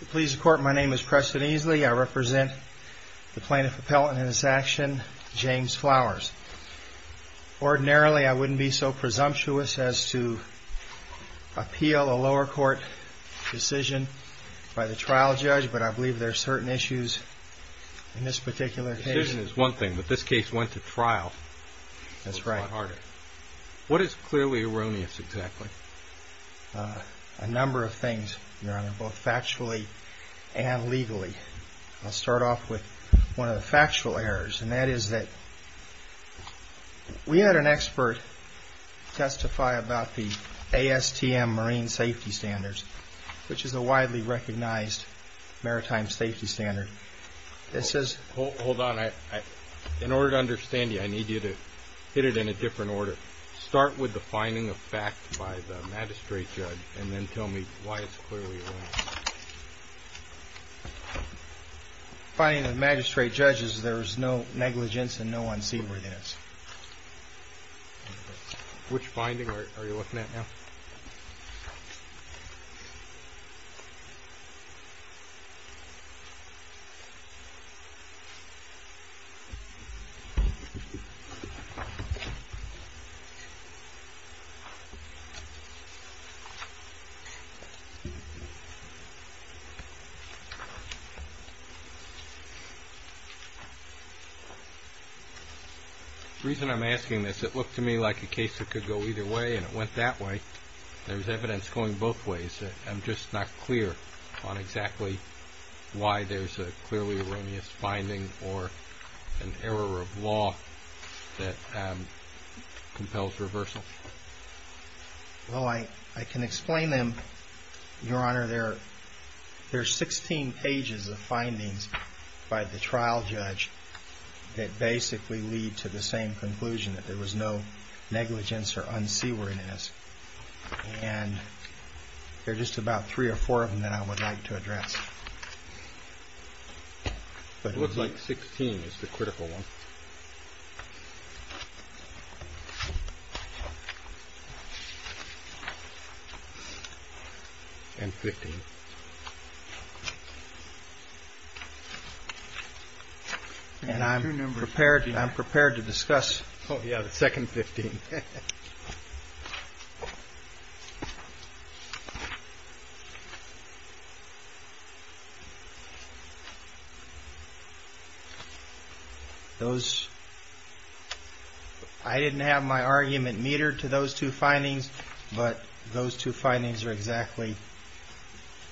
The Pleas of Court, my name is Preston Easley. I represent the Plaintiff Appellant in this action, James Flowers. Ordinarily, I wouldn't be so presumptuous as to appeal a lower court decision by the trial judge, but I believe there are certain issues in this particular case. The decision is one thing, but this case went to trial. That's right. What is clearly erroneous, exactly? A number of things, Your Honor, both factually and legally. I'll start off with one of the factual errors, and that is that we had an expert testify about the ASTM marine safety standards, which is a widely recognized maritime safety standard. Hold on. In order to understand you, I need you to hit it in a different order. Start with the finding of fact by the magistrate judge, and then tell me why it's clearly erroneous. The finding of the magistrate judge is there is no negligence and no unseemlyness. Which finding are you looking at now? The reason I'm asking this, it looked to me like a case that could go either way, and it went that way. There's evidence going both ways. I'm just not clear on exactly why there's a clearly erroneous finding or an error of law that compels reversal. Well, I can explain them, Your Honor. There are 16 pages of findings by the trial judge that basically lead to the same conclusion, that there was no negligence or unseemliness. And there are just about three or four of them that I would like to address. It looks like 16 is the critical one. And 15. And I'm prepared to discuss the second 15. I didn't have my argument metered to those two findings, but those two findings are exactly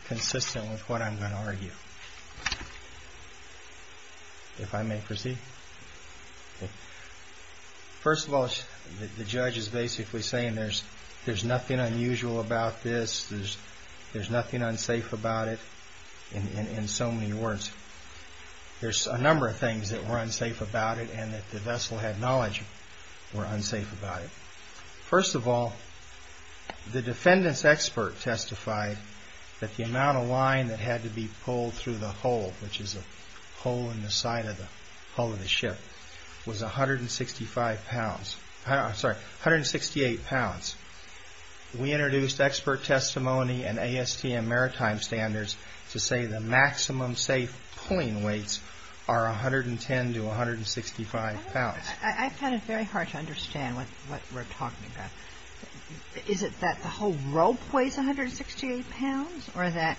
consistent with what I'm going to argue. If I may proceed. First of all, the judge is basically saying there's nothing unusual about this, there's nothing unsafe about it, in so many words. There's a number of things that were unsafe about it and that the vessel had knowledge were unsafe about it. First of all, the defendant's expert testified that the amount of line that had to be pulled through the hole, which is a hole in the side of the hull of the ship, was 165 pounds. I'm sorry, 168 pounds. We introduced expert testimony and ASTM maritime standards to say the maximum safe pulling weights are 110 to 165 pounds. I find it very hard to understand what we're talking about. Is it that the whole rope weighs 168 pounds or that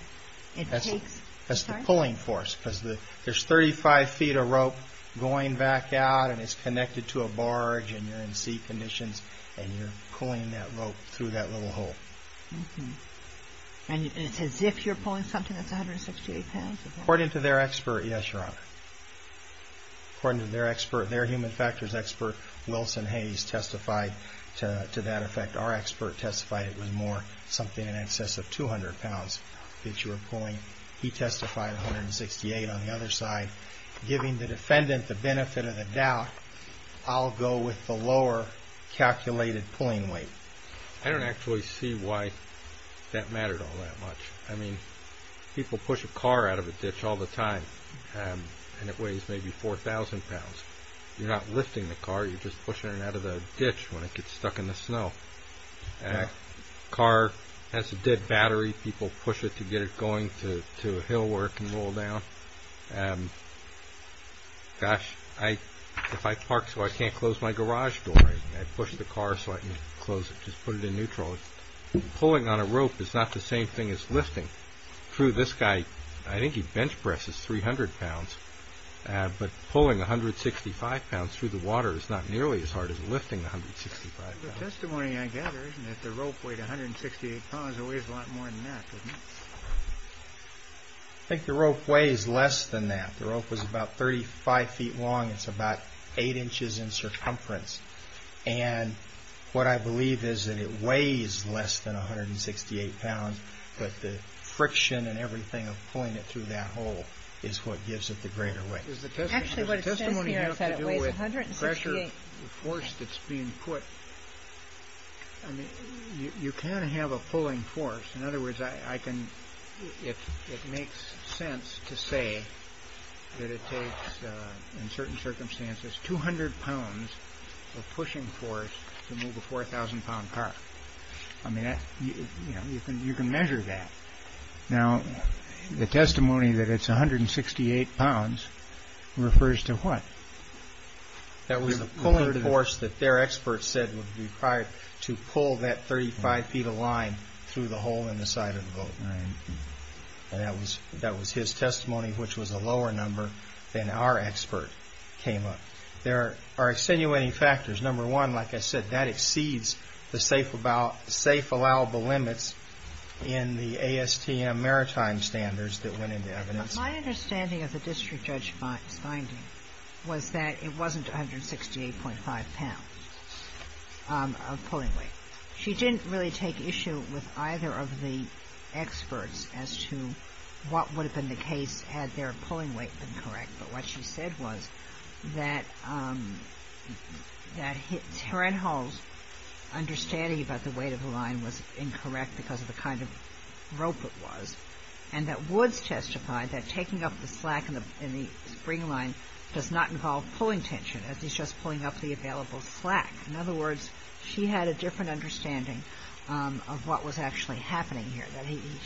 it takes... That's the pulling force. Because there's 35 feet of rope going back out and it's connected to a barge and you're in sea conditions and you're pulling that rope through that little hole. And it's as if you're pulling something that's 168 pounds? According to their expert, yes, Your Honor. According to their expert, their human factors expert, Wilson Hayes, testified to that effect. Our expert testified it was more, something in excess of 200 pounds that you were pulling. He testified 168 on the other side. Giving the defendant the benefit of the doubt, I'll go with the lower calculated pulling weight. I don't actually see why that mattered all that much. I mean, people push a car out of a ditch all the time and it weighs maybe 4,000 pounds. You're not lifting the car, you're just pushing it out of the ditch when it gets stuck in the snow. A car has a dead battery, people push it to get it going to a hill where it can roll down. Gosh, if I park so I can't close my garage door, I push the car so I can close it, just put it in neutral. Pulling on a rope is not the same thing as lifting. True, this guy, I think he bench presses 300 pounds. But pulling 165 pounds through the water is not nearly as hard as lifting 165 pounds. The testimony I gather is that the rope weighed 168 pounds, it weighs a lot more than that, doesn't it? I think the rope weighs less than that. The rope was about 35 feet long, it's about 8 inches in circumference. And what I believe is that it weighs less than 168 pounds, but the friction and everything of pulling it through that hole is what gives it the greater weight. Actually, what it says here is that it weighs 168 pounds. The force that's being put, you can have a pulling force. In other words, it makes sense to say that it takes, in certain circumstances, 200 pounds of pushing force to move a 4,000 pound car. I mean, you can measure that. Now, the testimony that it's 168 pounds refers to what? That was the pulling force that their experts said would be required to pull that 35 feet of line through the hole in the side of the boat. And that was his testimony, which was a lower number than our expert came up. There are extenuating factors. Number one, like I said, that exceeds the safe allowable limits in the ASTM maritime standards that went into evidence. My understanding of the district judge's finding was that it wasn't 168.5 pounds of pulling weight. She didn't really take issue with either of the experts as to what would have been the case had their pulling weight been correct. But what she said was that Taren Hall's understanding about the weight of the line was incorrect because of the kind of rope it was, and that Woods testified that taking up the slack in the spring line does not involve pulling tension, as he's just pulling up the available slack. In other words, she had a different understanding of what was actually happening here.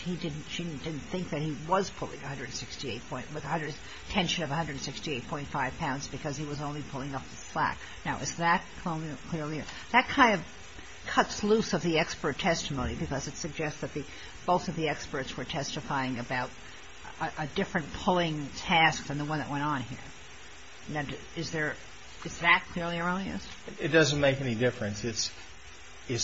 She didn't think that he was pulling 168 points with a tension of 168.5 pounds because he was only pulling up the slack. Now, is that clear? That kind of cuts loose of the expert testimony because it suggests that both of the experts were testifying about a different pulling task than the one that went on here. Is that clearly erroneous? It doesn't make any difference. It's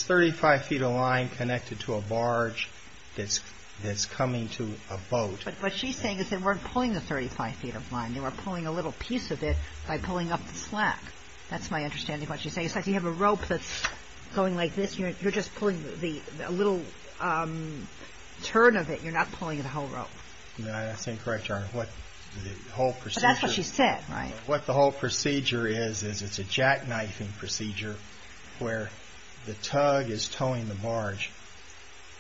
35 feet of line connected to a barge that's coming to a boat. But what she's saying is they weren't pulling the 35 feet of line. They were pulling a little piece of it by pulling up the slack. That's my understanding of what she's saying. It's like you have a rope that's going like this. You're just pulling a little turn of it. You're not pulling the whole rope. That's incorrect, Your Honor. But that's what she said, right? What the whole procedure is is it's a jackknifing procedure where the tug is towing the barge.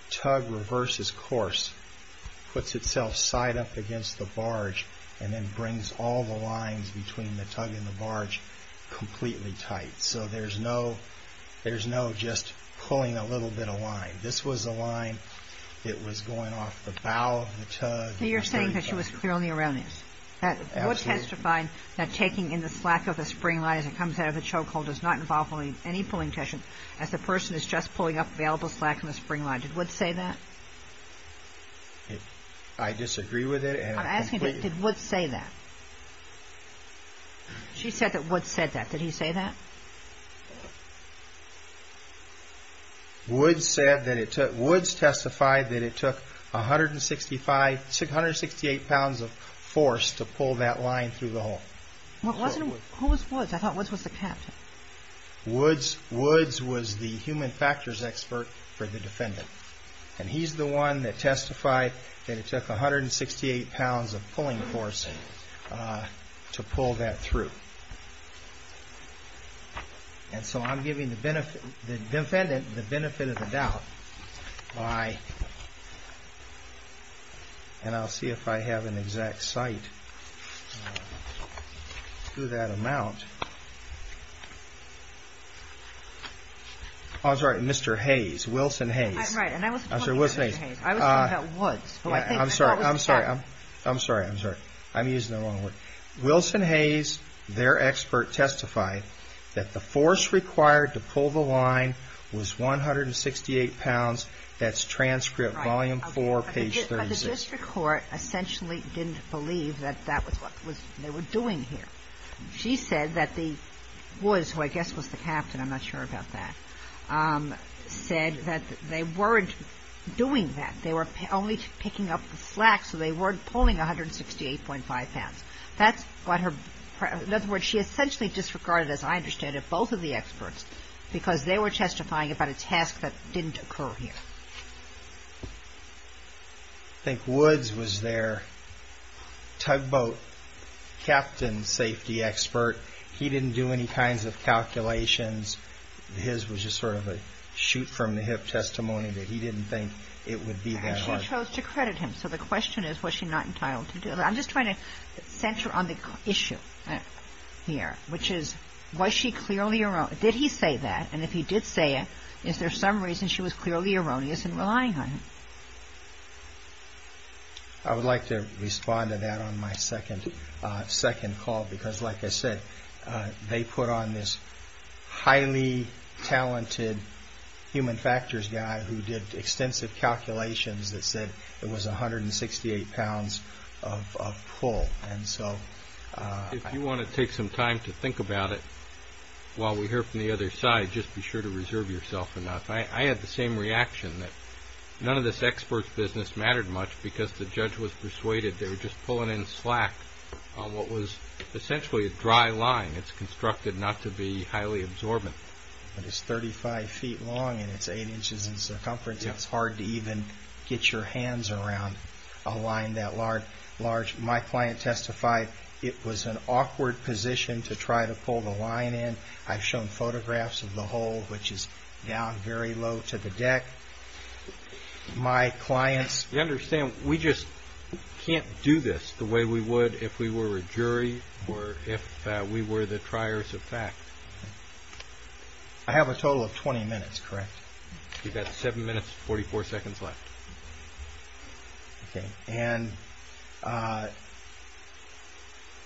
Tug reverses course, puts itself side up against the barge, and then brings all the lines between the tug and the barge completely tight. So there's no just pulling a little bit of line. This was a line that was going off the bow of the tug. So you're saying that she was clearly erroneous. Absolutely. Woods testified that taking in the slack of the spring line as it comes out of the choke hold does not involve pulling any pulling tension, as the person is just pulling up available slack in the spring line. Did Woods say that? I disagree with it. I'm asking, did Woods say that? She said that Woods said that. Did he say that? Woods testified that it took 168 pounds of force to pull that line through the hole. Who was Woods? I thought Woods was the captain. Woods was the human factors expert for the defendant. And he's the one that testified that it took 168 pounds of pulling force to pull that through. And so I'm giving the defendant the benefit of the doubt by and I'll see if I have an exact cite to that amount. I'm sorry. Mr. Hayes, Wilson Hayes. Right. And I wasn't talking about Mr. Hayes. I'm sorry. I'm sorry. I'm sorry. I'm sorry. I'm using the wrong word. Wilson Hayes, their expert, testified that the force required to pull the line was 168 pounds. That's transcript volume four, page 36. But the district court essentially didn't believe that that was what they were doing here. She said that Woods, who I guess was the captain, I'm not sure about that, said that they weren't doing that. They were only picking up the slack, so they weren't pulling 168.5 pounds. That's what her, in other words, she essentially disregarded, as I understand it, both of the experts because they were testifying about a task that didn't occur here. I think Woods was their tugboat captain safety expert. He didn't do any kinds of calculations. His was just sort of a shoot-from-the-hip testimony that he didn't think it would be that hard. And she chose to credit him. So the question is, was she not entitled to do that? I'm just trying to center on the issue here, which is, was she clearly, did he say that? And if he did say it, is there some reason she was clearly erroneous in relying on him? I would like to respond to that on my second call because, like I said, they put on this highly talented human factors guy who did extensive calculations that said it was 168 pounds of pull. If you want to take some time to think about it while we hear from the other side, just be sure to reserve yourself enough. I had the same reaction that none of this expert's business mattered much because the judge was persuaded they were just pulling in slack on what was essentially a dry line. It's constructed not to be highly absorbent. It's 35 feet long and it's 8 inches in circumference. It's hard to even get your hands around a line that large. My client testified it was an awkward position to try to pull the line in. I've shown photographs of the hole, which is down very low to the deck. My client's... You understand, we just can't do this the way we would if we were a jury or if we were the triers of fact. I have a total of 20 minutes, correct? You've got 7 minutes and 44 seconds left. Okay, and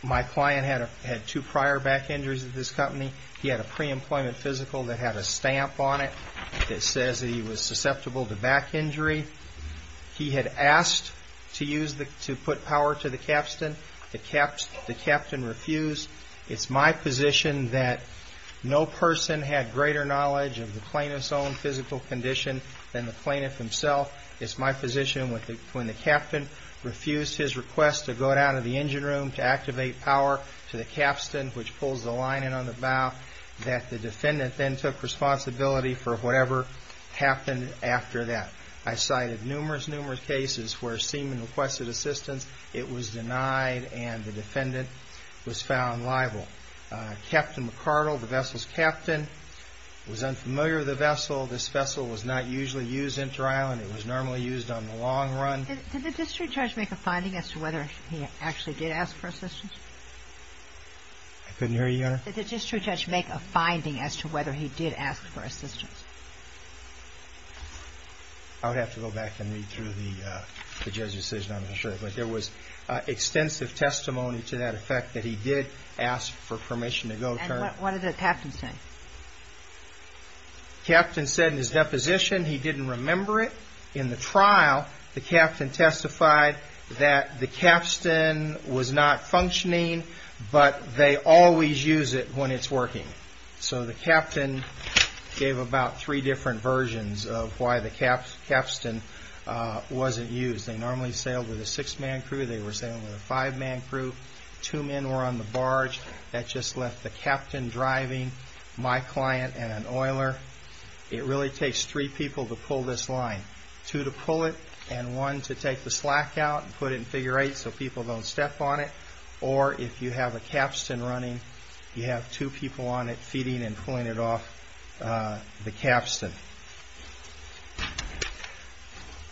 my client had two prior back injuries at this company. He had a pre-employment physical that had a stamp on it that says he was susceptible to back injury. He had asked to put power to the capstan. The capstan refused. It's my position that no person had greater knowledge of the plaintiff's own physical condition than the plaintiff himself. It's my position when the captain refused his request to go down to the engine room to activate power to the capstan, which pulls the line in on the bow, that the defendant then took responsibility for whatever happened after that. I cited numerous, numerous cases where a seaman requested assistance. It was denied and the defendant was found liable. Captain McCardle, the vessel's captain, was unfamiliar with the vessel. This vessel was not usually used in trial and it was normally used on the long run. Did the district judge make a finding as to whether he actually did ask for assistance? I couldn't hear you, Your Honor. Did the district judge make a finding as to whether he did ask for assistance? I would have to go back and read through the judge's decision, I'm not sure, but there was extensive testimony to that effect that he did ask for permission to go turn. And what did the captain say? Captain said in his deposition he didn't remember it. In the trial, the captain testified that the capstan was not functioning, but they always use it when it's working. So the captain gave about three different versions of why the capstan wasn't used. They normally sailed with a six-man crew, they were sailing with a five-man crew. Two men were on the barge. That just left the captain driving, my client, and an oiler. It really takes three people to pull this line. Two to pull it and one to take the slack out and put it in figure eight so people don't step on it. Or if you have a capstan running, you have two people on it feeding and pulling it off the capstan.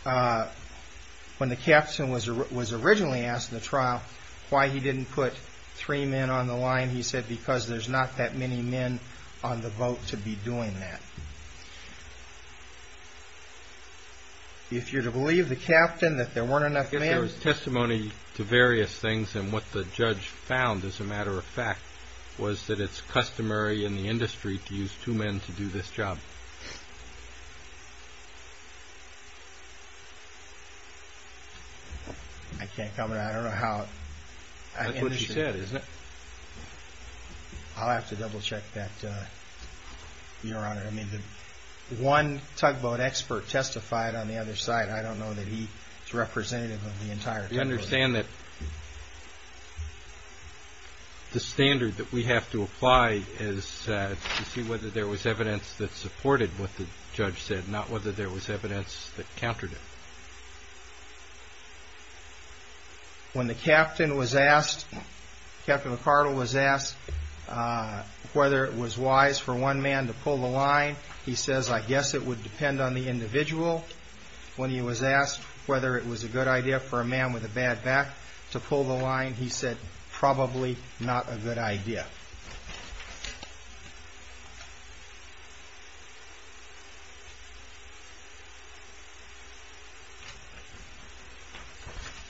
When the capstan was originally asked in the trial why he didn't put three men on the line, he said because there's not that many men on the boat to be doing that. If you're to believe the capstan that there weren't enough men. I guess there was testimony to various things, and what the judge found, as a matter of fact, was that it's customary in the industry to use two men to do this job. I can't comment. I don't know how... That's what she said, isn't it? I'll have to double-check that, Your Honor. I mean, one tugboat expert testified on the other side. I don't know that he's representative of the entire tugboat. I understand that the standard that we have to apply is to see whether there was evidence that supported what the judge said, not whether there was evidence that countered it. When the captain was asked, Captain McCardle was asked, whether it was wise for one man to pull the line, he says, I guess it would depend on the individual. When he was asked whether it was a good idea for a man with a bad back to pull the line, he said, probably not a good idea.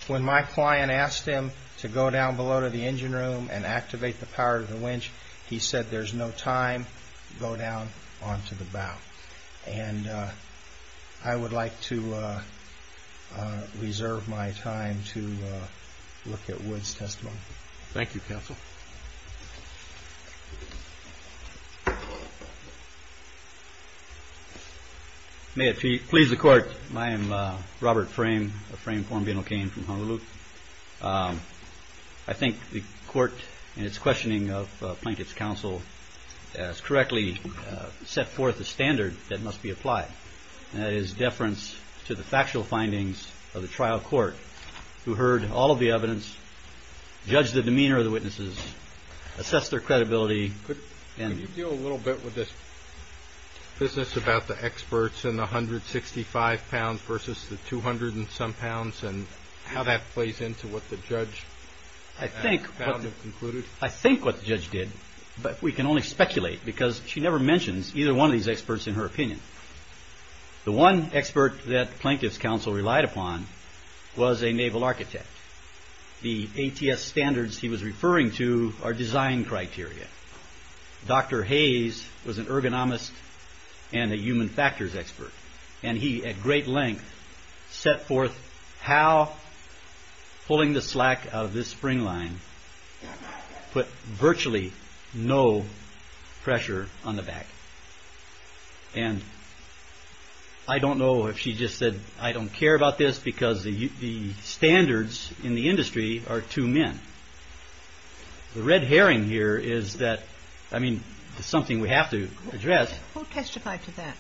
When my client asked him to go down below to the engine room and activate the power of the winch, he said, there's no time, go down onto the bow. And I would like to reserve my time to look at Wood's testimony. Thank you, Counsel. May it please the Court, I am Robert Frame, a Frame form being obtained from Honolulu. I think the Court, in its questioning of Plaintiff's Counsel, has correctly set forth the standard that must be applied, and that is deference to the factual findings of the trial court, who heard all of the evidence, judged the demeanor of the witnesses, assessed their credibility. Could you deal a little bit with this business about the experts and the 165 pounds versus the 200 and some pounds and how that plays into what the judge has concluded? I think what the judge did, but we can only speculate because she never mentions either one of these experts in her opinion. The one expert that Plaintiff's Counsel relied upon was a naval architect. The ATS standards he was referring to are design criteria. Dr. Hayes was an ergonomist and a human factors expert, and he, at great length, set forth how pulling the slack out of this spring line put virtually no pressure on the back. And I don't know if she just said, I don't care about this because the standards in the industry are two men. The red herring here is that, I mean, it's something we have to address. Who testified to that?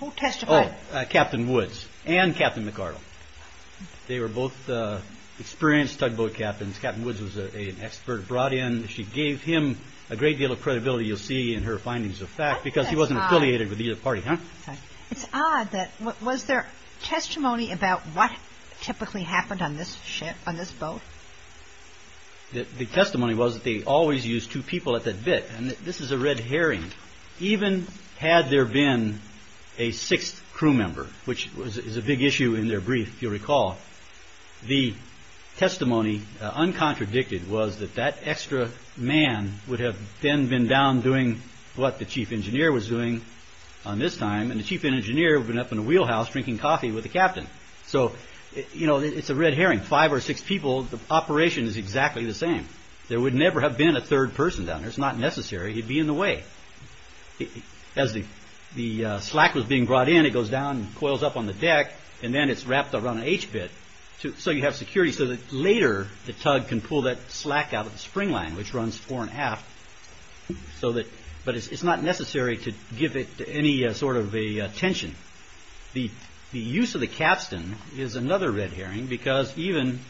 Who testified? Captain Woods and Captain McArdle. They were both experienced tugboat captains. Captain Woods was an expert brought in. She gave him a great deal of credibility, you'll see in her findings of fact, because he wasn't affiliated with either party. It's odd. Was there testimony about what typically happened on this ship, on this boat? The testimony was that they always used two people at that bit, and this is a red herring. Even had there been a sixth crew member, which is a big issue in their brief, if you recall, the testimony, uncontradicted, was that that extra man would have then been down doing what the chief engineer was doing on this time, and the chief engineer would have been up in a wheelhouse drinking coffee with the captain. So, you know, it's a red herring. Five or six people, the operation is exactly the same. There would never have been a third person down there. It's not necessary. He'd be in the way. As the slack was being brought in, it goes down and coils up on the deck, and then it's wrapped around an H-bit so you have security so that later the tug can pull that slack out of the spring line, which runs fore and aft, but it's not necessary to give it any sort of a tension. The use of the capstan is another red herring because even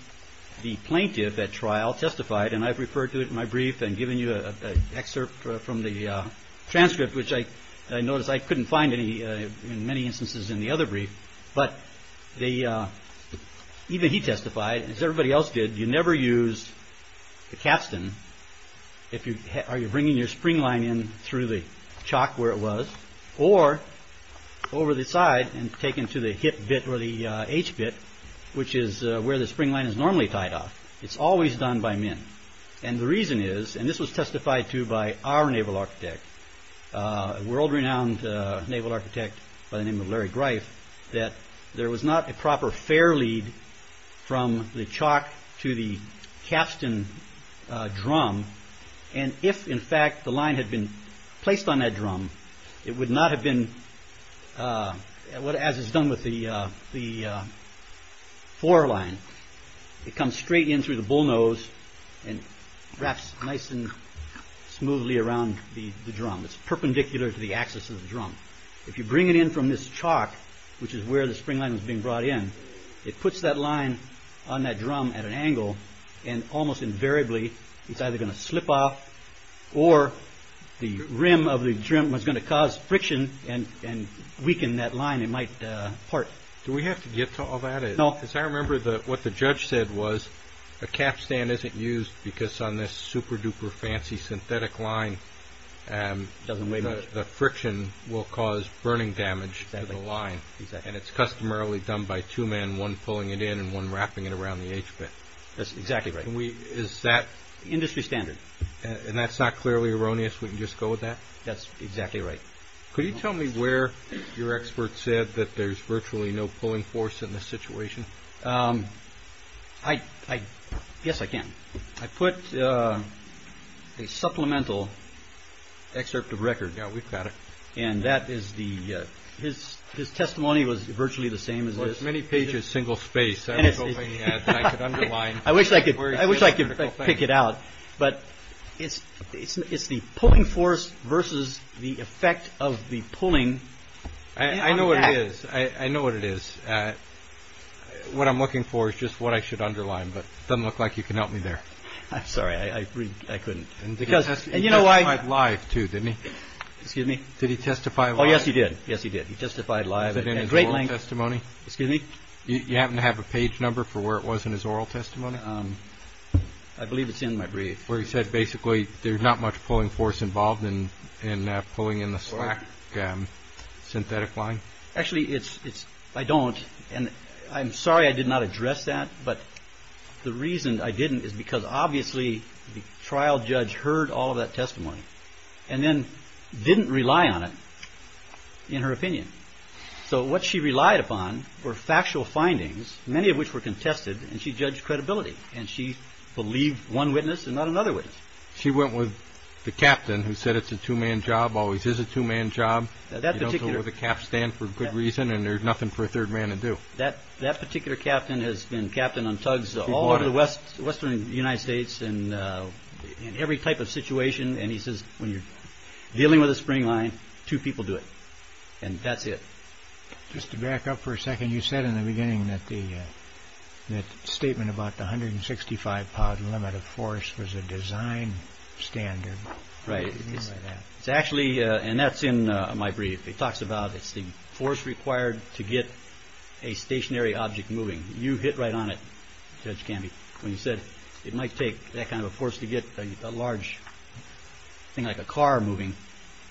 the plaintiff at trial testified, and I've referred to it in my brief and given you an excerpt from the transcript, which I noticed I couldn't find in many instances in the other brief, but even he testified, as everybody else did, you never use the capstan if you're bringing your spring line in through the chalk where it was or over the side and taken to the hip bit or the H-bit, which is where the spring line is normally tied off. It's always done by men, and the reason is, and this was testified to by our naval architect, a world-renowned naval architect by the name of Larry Greif, that there was not a proper fair lead from the chalk to the capstan drum, and if, in fact, the line had been placed on that drum, it would not have been, as is done with the fore line. It comes straight in through the bullnose and wraps nice and smoothly around the drum. It's perpendicular to the axis of the drum. If you bring it in from this chalk, which is where the spring line was being brought in, it puts that line on that drum at an angle, and almost invariably it's either going to slip off or the rim of the drum is going to cause friction and weaken that line. It might part. Do we have to get to all that? No. As I remember, what the judge said was, a capstan isn't used because on this super-duper fancy synthetic line, the friction will cause burning damage to the line, and it's customarily done by two men, one pulling it in and one wrapping it around the H-bit. That's exactly right. Is that? Industry standard. And that's not clearly erroneous? We can just go with that? That's exactly right. Could you tell me where your expert said that there's virtually no pulling force in this situation? Yes, I can. I put a supplemental excerpt of record. Yeah, we've got it. His testimony was virtually the same as this. Well, it's many pages, single space. I was hoping I could underline. I wish I could pick it out. But it's the pulling force versus the effect of the pulling. I know what it is. I know what it is. What I'm looking for is just what I should underline. But it doesn't look like you can help me there. I'm sorry. I couldn't. He testified live, too, didn't he? Excuse me? Did he testify live? Oh, yes, he did. Yes, he did. He testified live. Was it in his oral testimony? Excuse me? You happen to have a page number for where it was in his oral testimony? I believe it's in my brief where he said basically there's not much pulling force involved in pulling in the slack. Synthetic line. Actually, it's it's I don't. And I'm sorry I did not address that. But the reason I didn't is because obviously the trial judge heard all of that testimony and then didn't rely on it in her opinion. So what she relied upon were factual findings, many of which were contested. And she judged credibility. And she believed one witness and not another witness. She went with the captain who said it's a two-man job, always is a two-man job. You know, so where the caps stand for good reason and there's nothing for a third man to do. That particular captain has been captain on tugs all over the western United States in every type of situation. And he says when you're dealing with a spring line, two people do it. And that's it. Just to back up for a second. You said in the beginning that the statement about the hundred and sixty five pound limit of force was a design standard. Right. It's actually and that's in my brief. It talks about it's the force required to get a stationary object moving. You hit right on it, Judge Gamby, when you said it might take that kind of force to get a large thing like a car moving.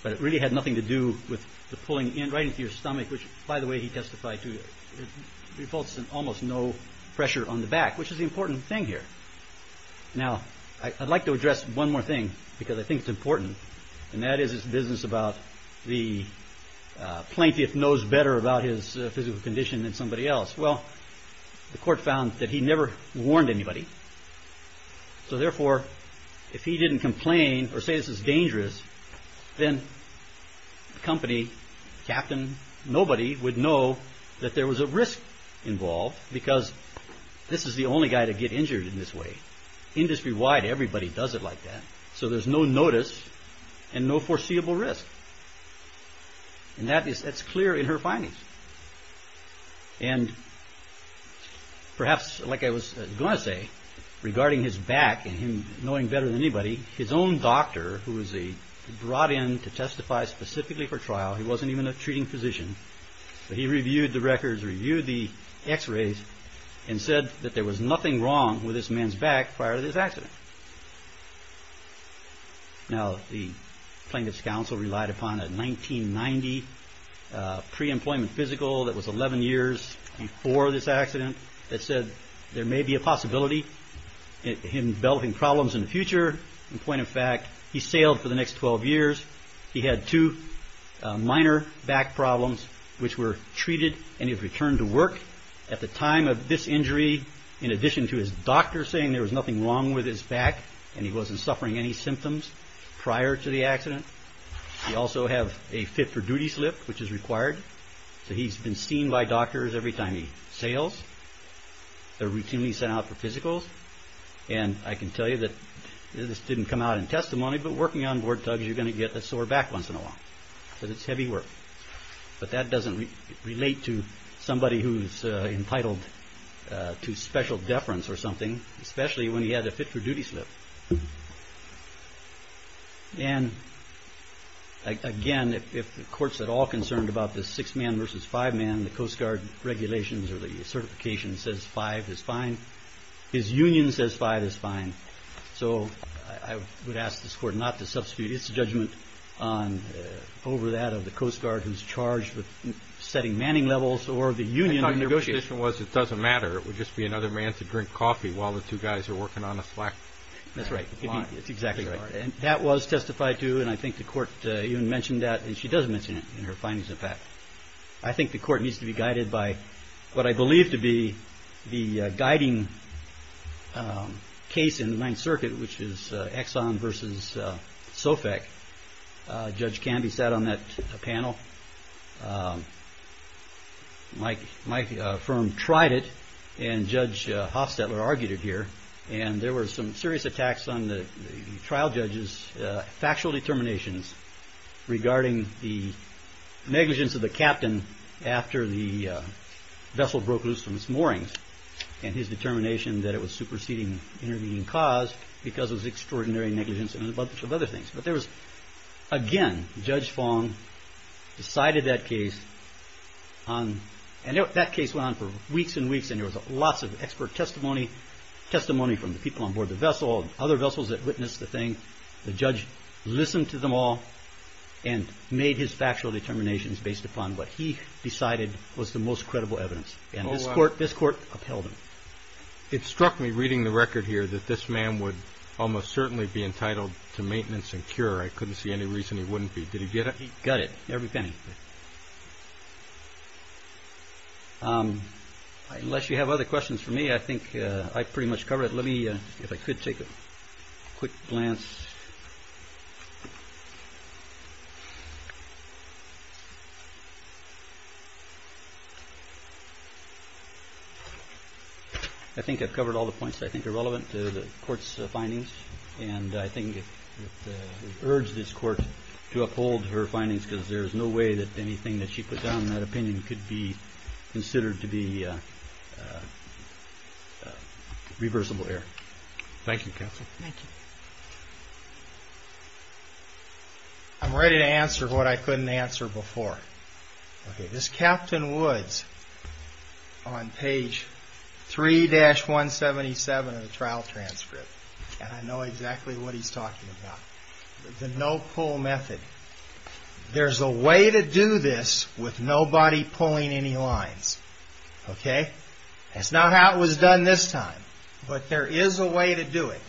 But it really had nothing to do with the pulling in right into your stomach, which, by the way, he testified to. It results in almost no pressure on the back, which is the important thing here. Now, I'd like to address one more thing because I think it's important. And that is this business about the plaintiff knows better about his physical condition than somebody else. Well, the court found that he never warned anybody. So therefore, if he didn't complain or say this is dangerous, then company captain, nobody would know that there was a risk involved because this is the only guy to get injured in this way. Industry wide, everybody does it like that. So there's no notice and no foreseeable risk. And that is that's clear in her findings. And perhaps like I was going to say, regarding his back and him knowing better than anybody, his own doctor who was brought in to testify specifically for trial, he wasn't even a treating physician, but he reviewed the records, reviewed the x-rays and said that there was nothing wrong with this man's back prior to this accident. Now, the plaintiff's counsel relied upon a 1990 pre-employment physical that was 11 years before this accident that said there may be a possibility in developing problems in the future. In point of fact, he sailed for the next 12 years. He had two minor back problems which were treated and he returned to work at the time of this injury. In addition to his doctor saying there was nothing wrong with his back and he wasn't suffering any symptoms prior to the accident, we also have a fit for duty slip which is required. So he's been seen by doctors every time he sails. They're routinely sent out for physicals. And I can tell you that this didn't come out in testimony, but working on board tugs, you're going to get a sore back once in a while because it's heavy work. But that doesn't relate to somebody who's entitled to special deference or something, especially when he had a fit for duty slip. And again, if the court's at all concerned about the six man versus five man, the Coast Guard regulations or the certification says five is fine. His union says five is fine. So I would ask this court not to substitute its judgment over that of the Coast Guard who's charged with setting manning levels or the union. Negotiation was it doesn't matter. It would just be another man to drink coffee while the two guys are working on a slack. That's right. It's exactly right. And that was testified to. And I think the court even mentioned that. And she doesn't mention it in her findings. I think the court needs to be guided by what I believe to be the guiding case in the Ninth Circuit, which is Exxon versus Sofec. Judge Canby sat on that panel. My firm tried it and Judge Hofstetler argued it here. And there were some serious attacks on the trial judges, factual determinations regarding the negligence of the captain after the vessel broke loose from its moorings. And his determination that it was superseding intervening cause because it was extraordinary negligence and a bunch of other things. But there was, again, Judge Fong decided that case. And that case went on for weeks and weeks. And there was lots of expert testimony, testimony from the people on board the vessel and other vessels that witnessed the thing. The judge listened to them all and made his factual determinations based upon what he decided was the most credible evidence. And this court upheld him. It struck me reading the record here that this man would almost certainly be entitled to maintenance and cure. I couldn't see any reason he wouldn't be. Did he get it? He got it, every penny. Unless you have other questions for me, I think I pretty much covered it. Let me, if I could, take a quick glance. I think I've covered all the points that I think are relevant to the court's findings. And I think we urge this court to uphold her findings because there is no way that anything that she put down in that opinion could be considered to be reversible error. Thank you, counsel. Thank you. I'm ready to answer what I couldn't answer before. This Captain Woods on page 3-177 of the trial transcript. And I know exactly what he's talking about. The no-pull method. There's a way to do this with nobody pulling any lines. Okay? That's not how it was done this time. But there is a way to do it.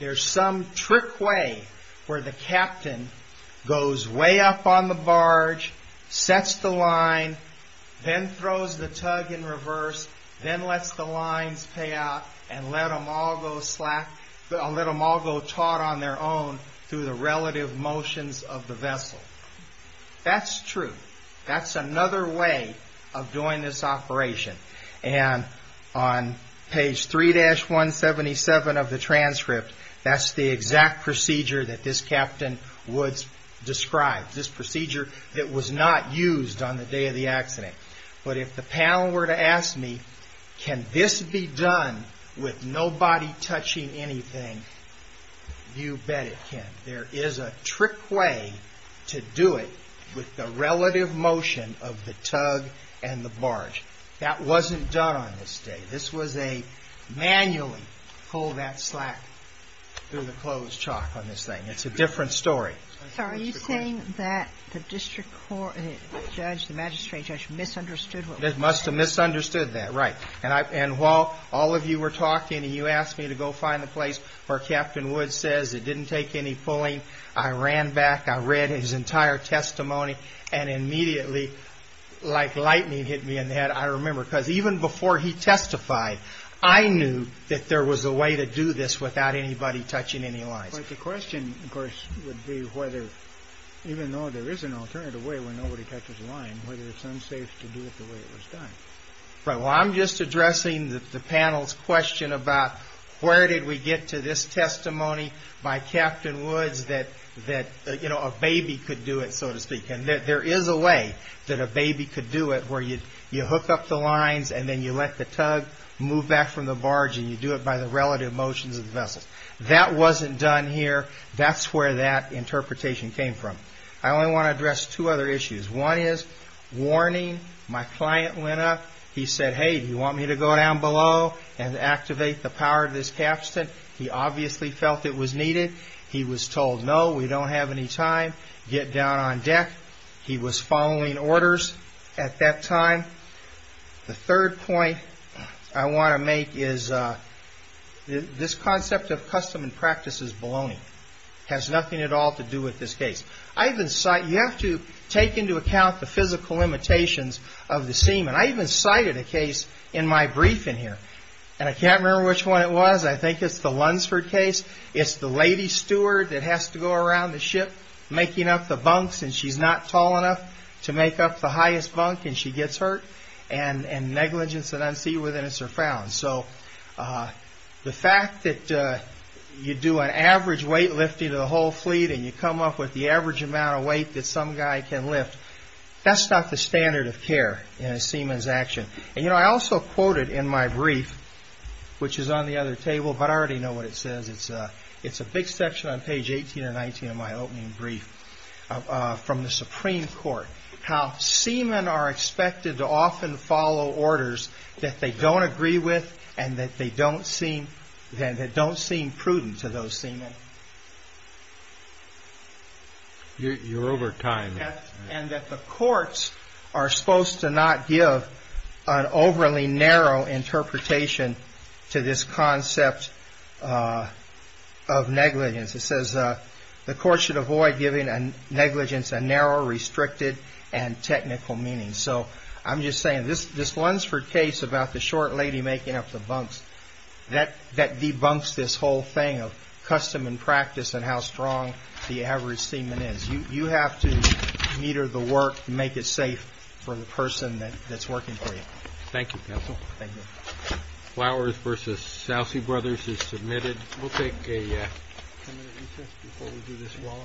There's some trick way where the captain goes way up on the barge, sets the line, then throws the tug in reverse, then lets the lines pay out, and let them all go taught on their own through the relative motions of the vessel. That's true. That's another way of doing this operation. And on page 3-177 of the transcript, that's the exact procedure that this Captain Woods described. This procedure that was not used on the day of the accident. But if the panel were to ask me, can this be done with nobody touching anything, you bet it can. There is a trick way to do it with the relative motion of the tug and the barge. That wasn't done on this day. This was a manually pull that slack through the closed chalk on this thing. It's a different story. So are you saying that the district court judge, the magistrate judge, misunderstood what was happening? They must have misunderstood that, right. And while all of you were talking and you asked me to go find the place where Captain Woods says it didn't take any pulling, I ran back, I read his entire testimony, and immediately, like lightning hit me in the head, I remember, because even before he testified, I knew that there was a way to do this without anybody touching any lines. But the question, of course, would be whether, even though there is an alternative way where nobody touches a line, whether it's unsafe to do it the way it was done. Right. Well, I'm just addressing the panel's question about where did we get to this testimony by Captain Woods that a baby could do it, so to speak. And there is a way that a baby could do it where you hook up the lines and then you let the tug move back from the barge and you do it by the relative motions of the vessels. That wasn't done here. That's where that interpretation came from. I only want to address two other issues. One is warning. My client went up. He said, hey, do you want me to go down below and activate the power of this capstan? He obviously felt it was needed. He was told, no, we don't have any time. Get down on deck. He was following orders at that time. The third point I want to make is this concept of custom and practice is baloney. It has nothing at all to do with this case. You have to take into account the physical limitations of the seaman. I even cited a case in my briefing here, and I can't remember which one it was. I think it's the Lunsford case. It's the lady steward that has to go around the ship making up the bunks, and she's not tall enough to make up the highest bunk, and she gets hurt. And negligence and unseaworthiness are found. So the fact that you do an average weightlifting of the whole fleet and you come up with the average amount of weight that some guy can lift, that's not the standard of care in a seaman's action. And, you know, I also quoted in my brief, which is on the other table, but I already know what it says. It's a big section on page 18 or 19 of my opening brief from the Supreme Court, how seamen are expected to often follow orders that they don't agree with and that don't seem prudent to those seamen. You're over time. And that the courts are supposed to not give an overly narrow interpretation to this concept of negligence. It says the courts should avoid giving negligence a narrow, restricted, and technical meaning. So I'm just saying this Lunsford case about the short lady making up the bunks, that debunks this whole thing of custom and practice and how strong the average seaman is. You have to meter the work and make it safe for the person that's working for you. Thank you, counsel. Thank you. Flowers v. Salsey Brothers is submitted. We'll take a ten-minute recess before we do this, Wallace.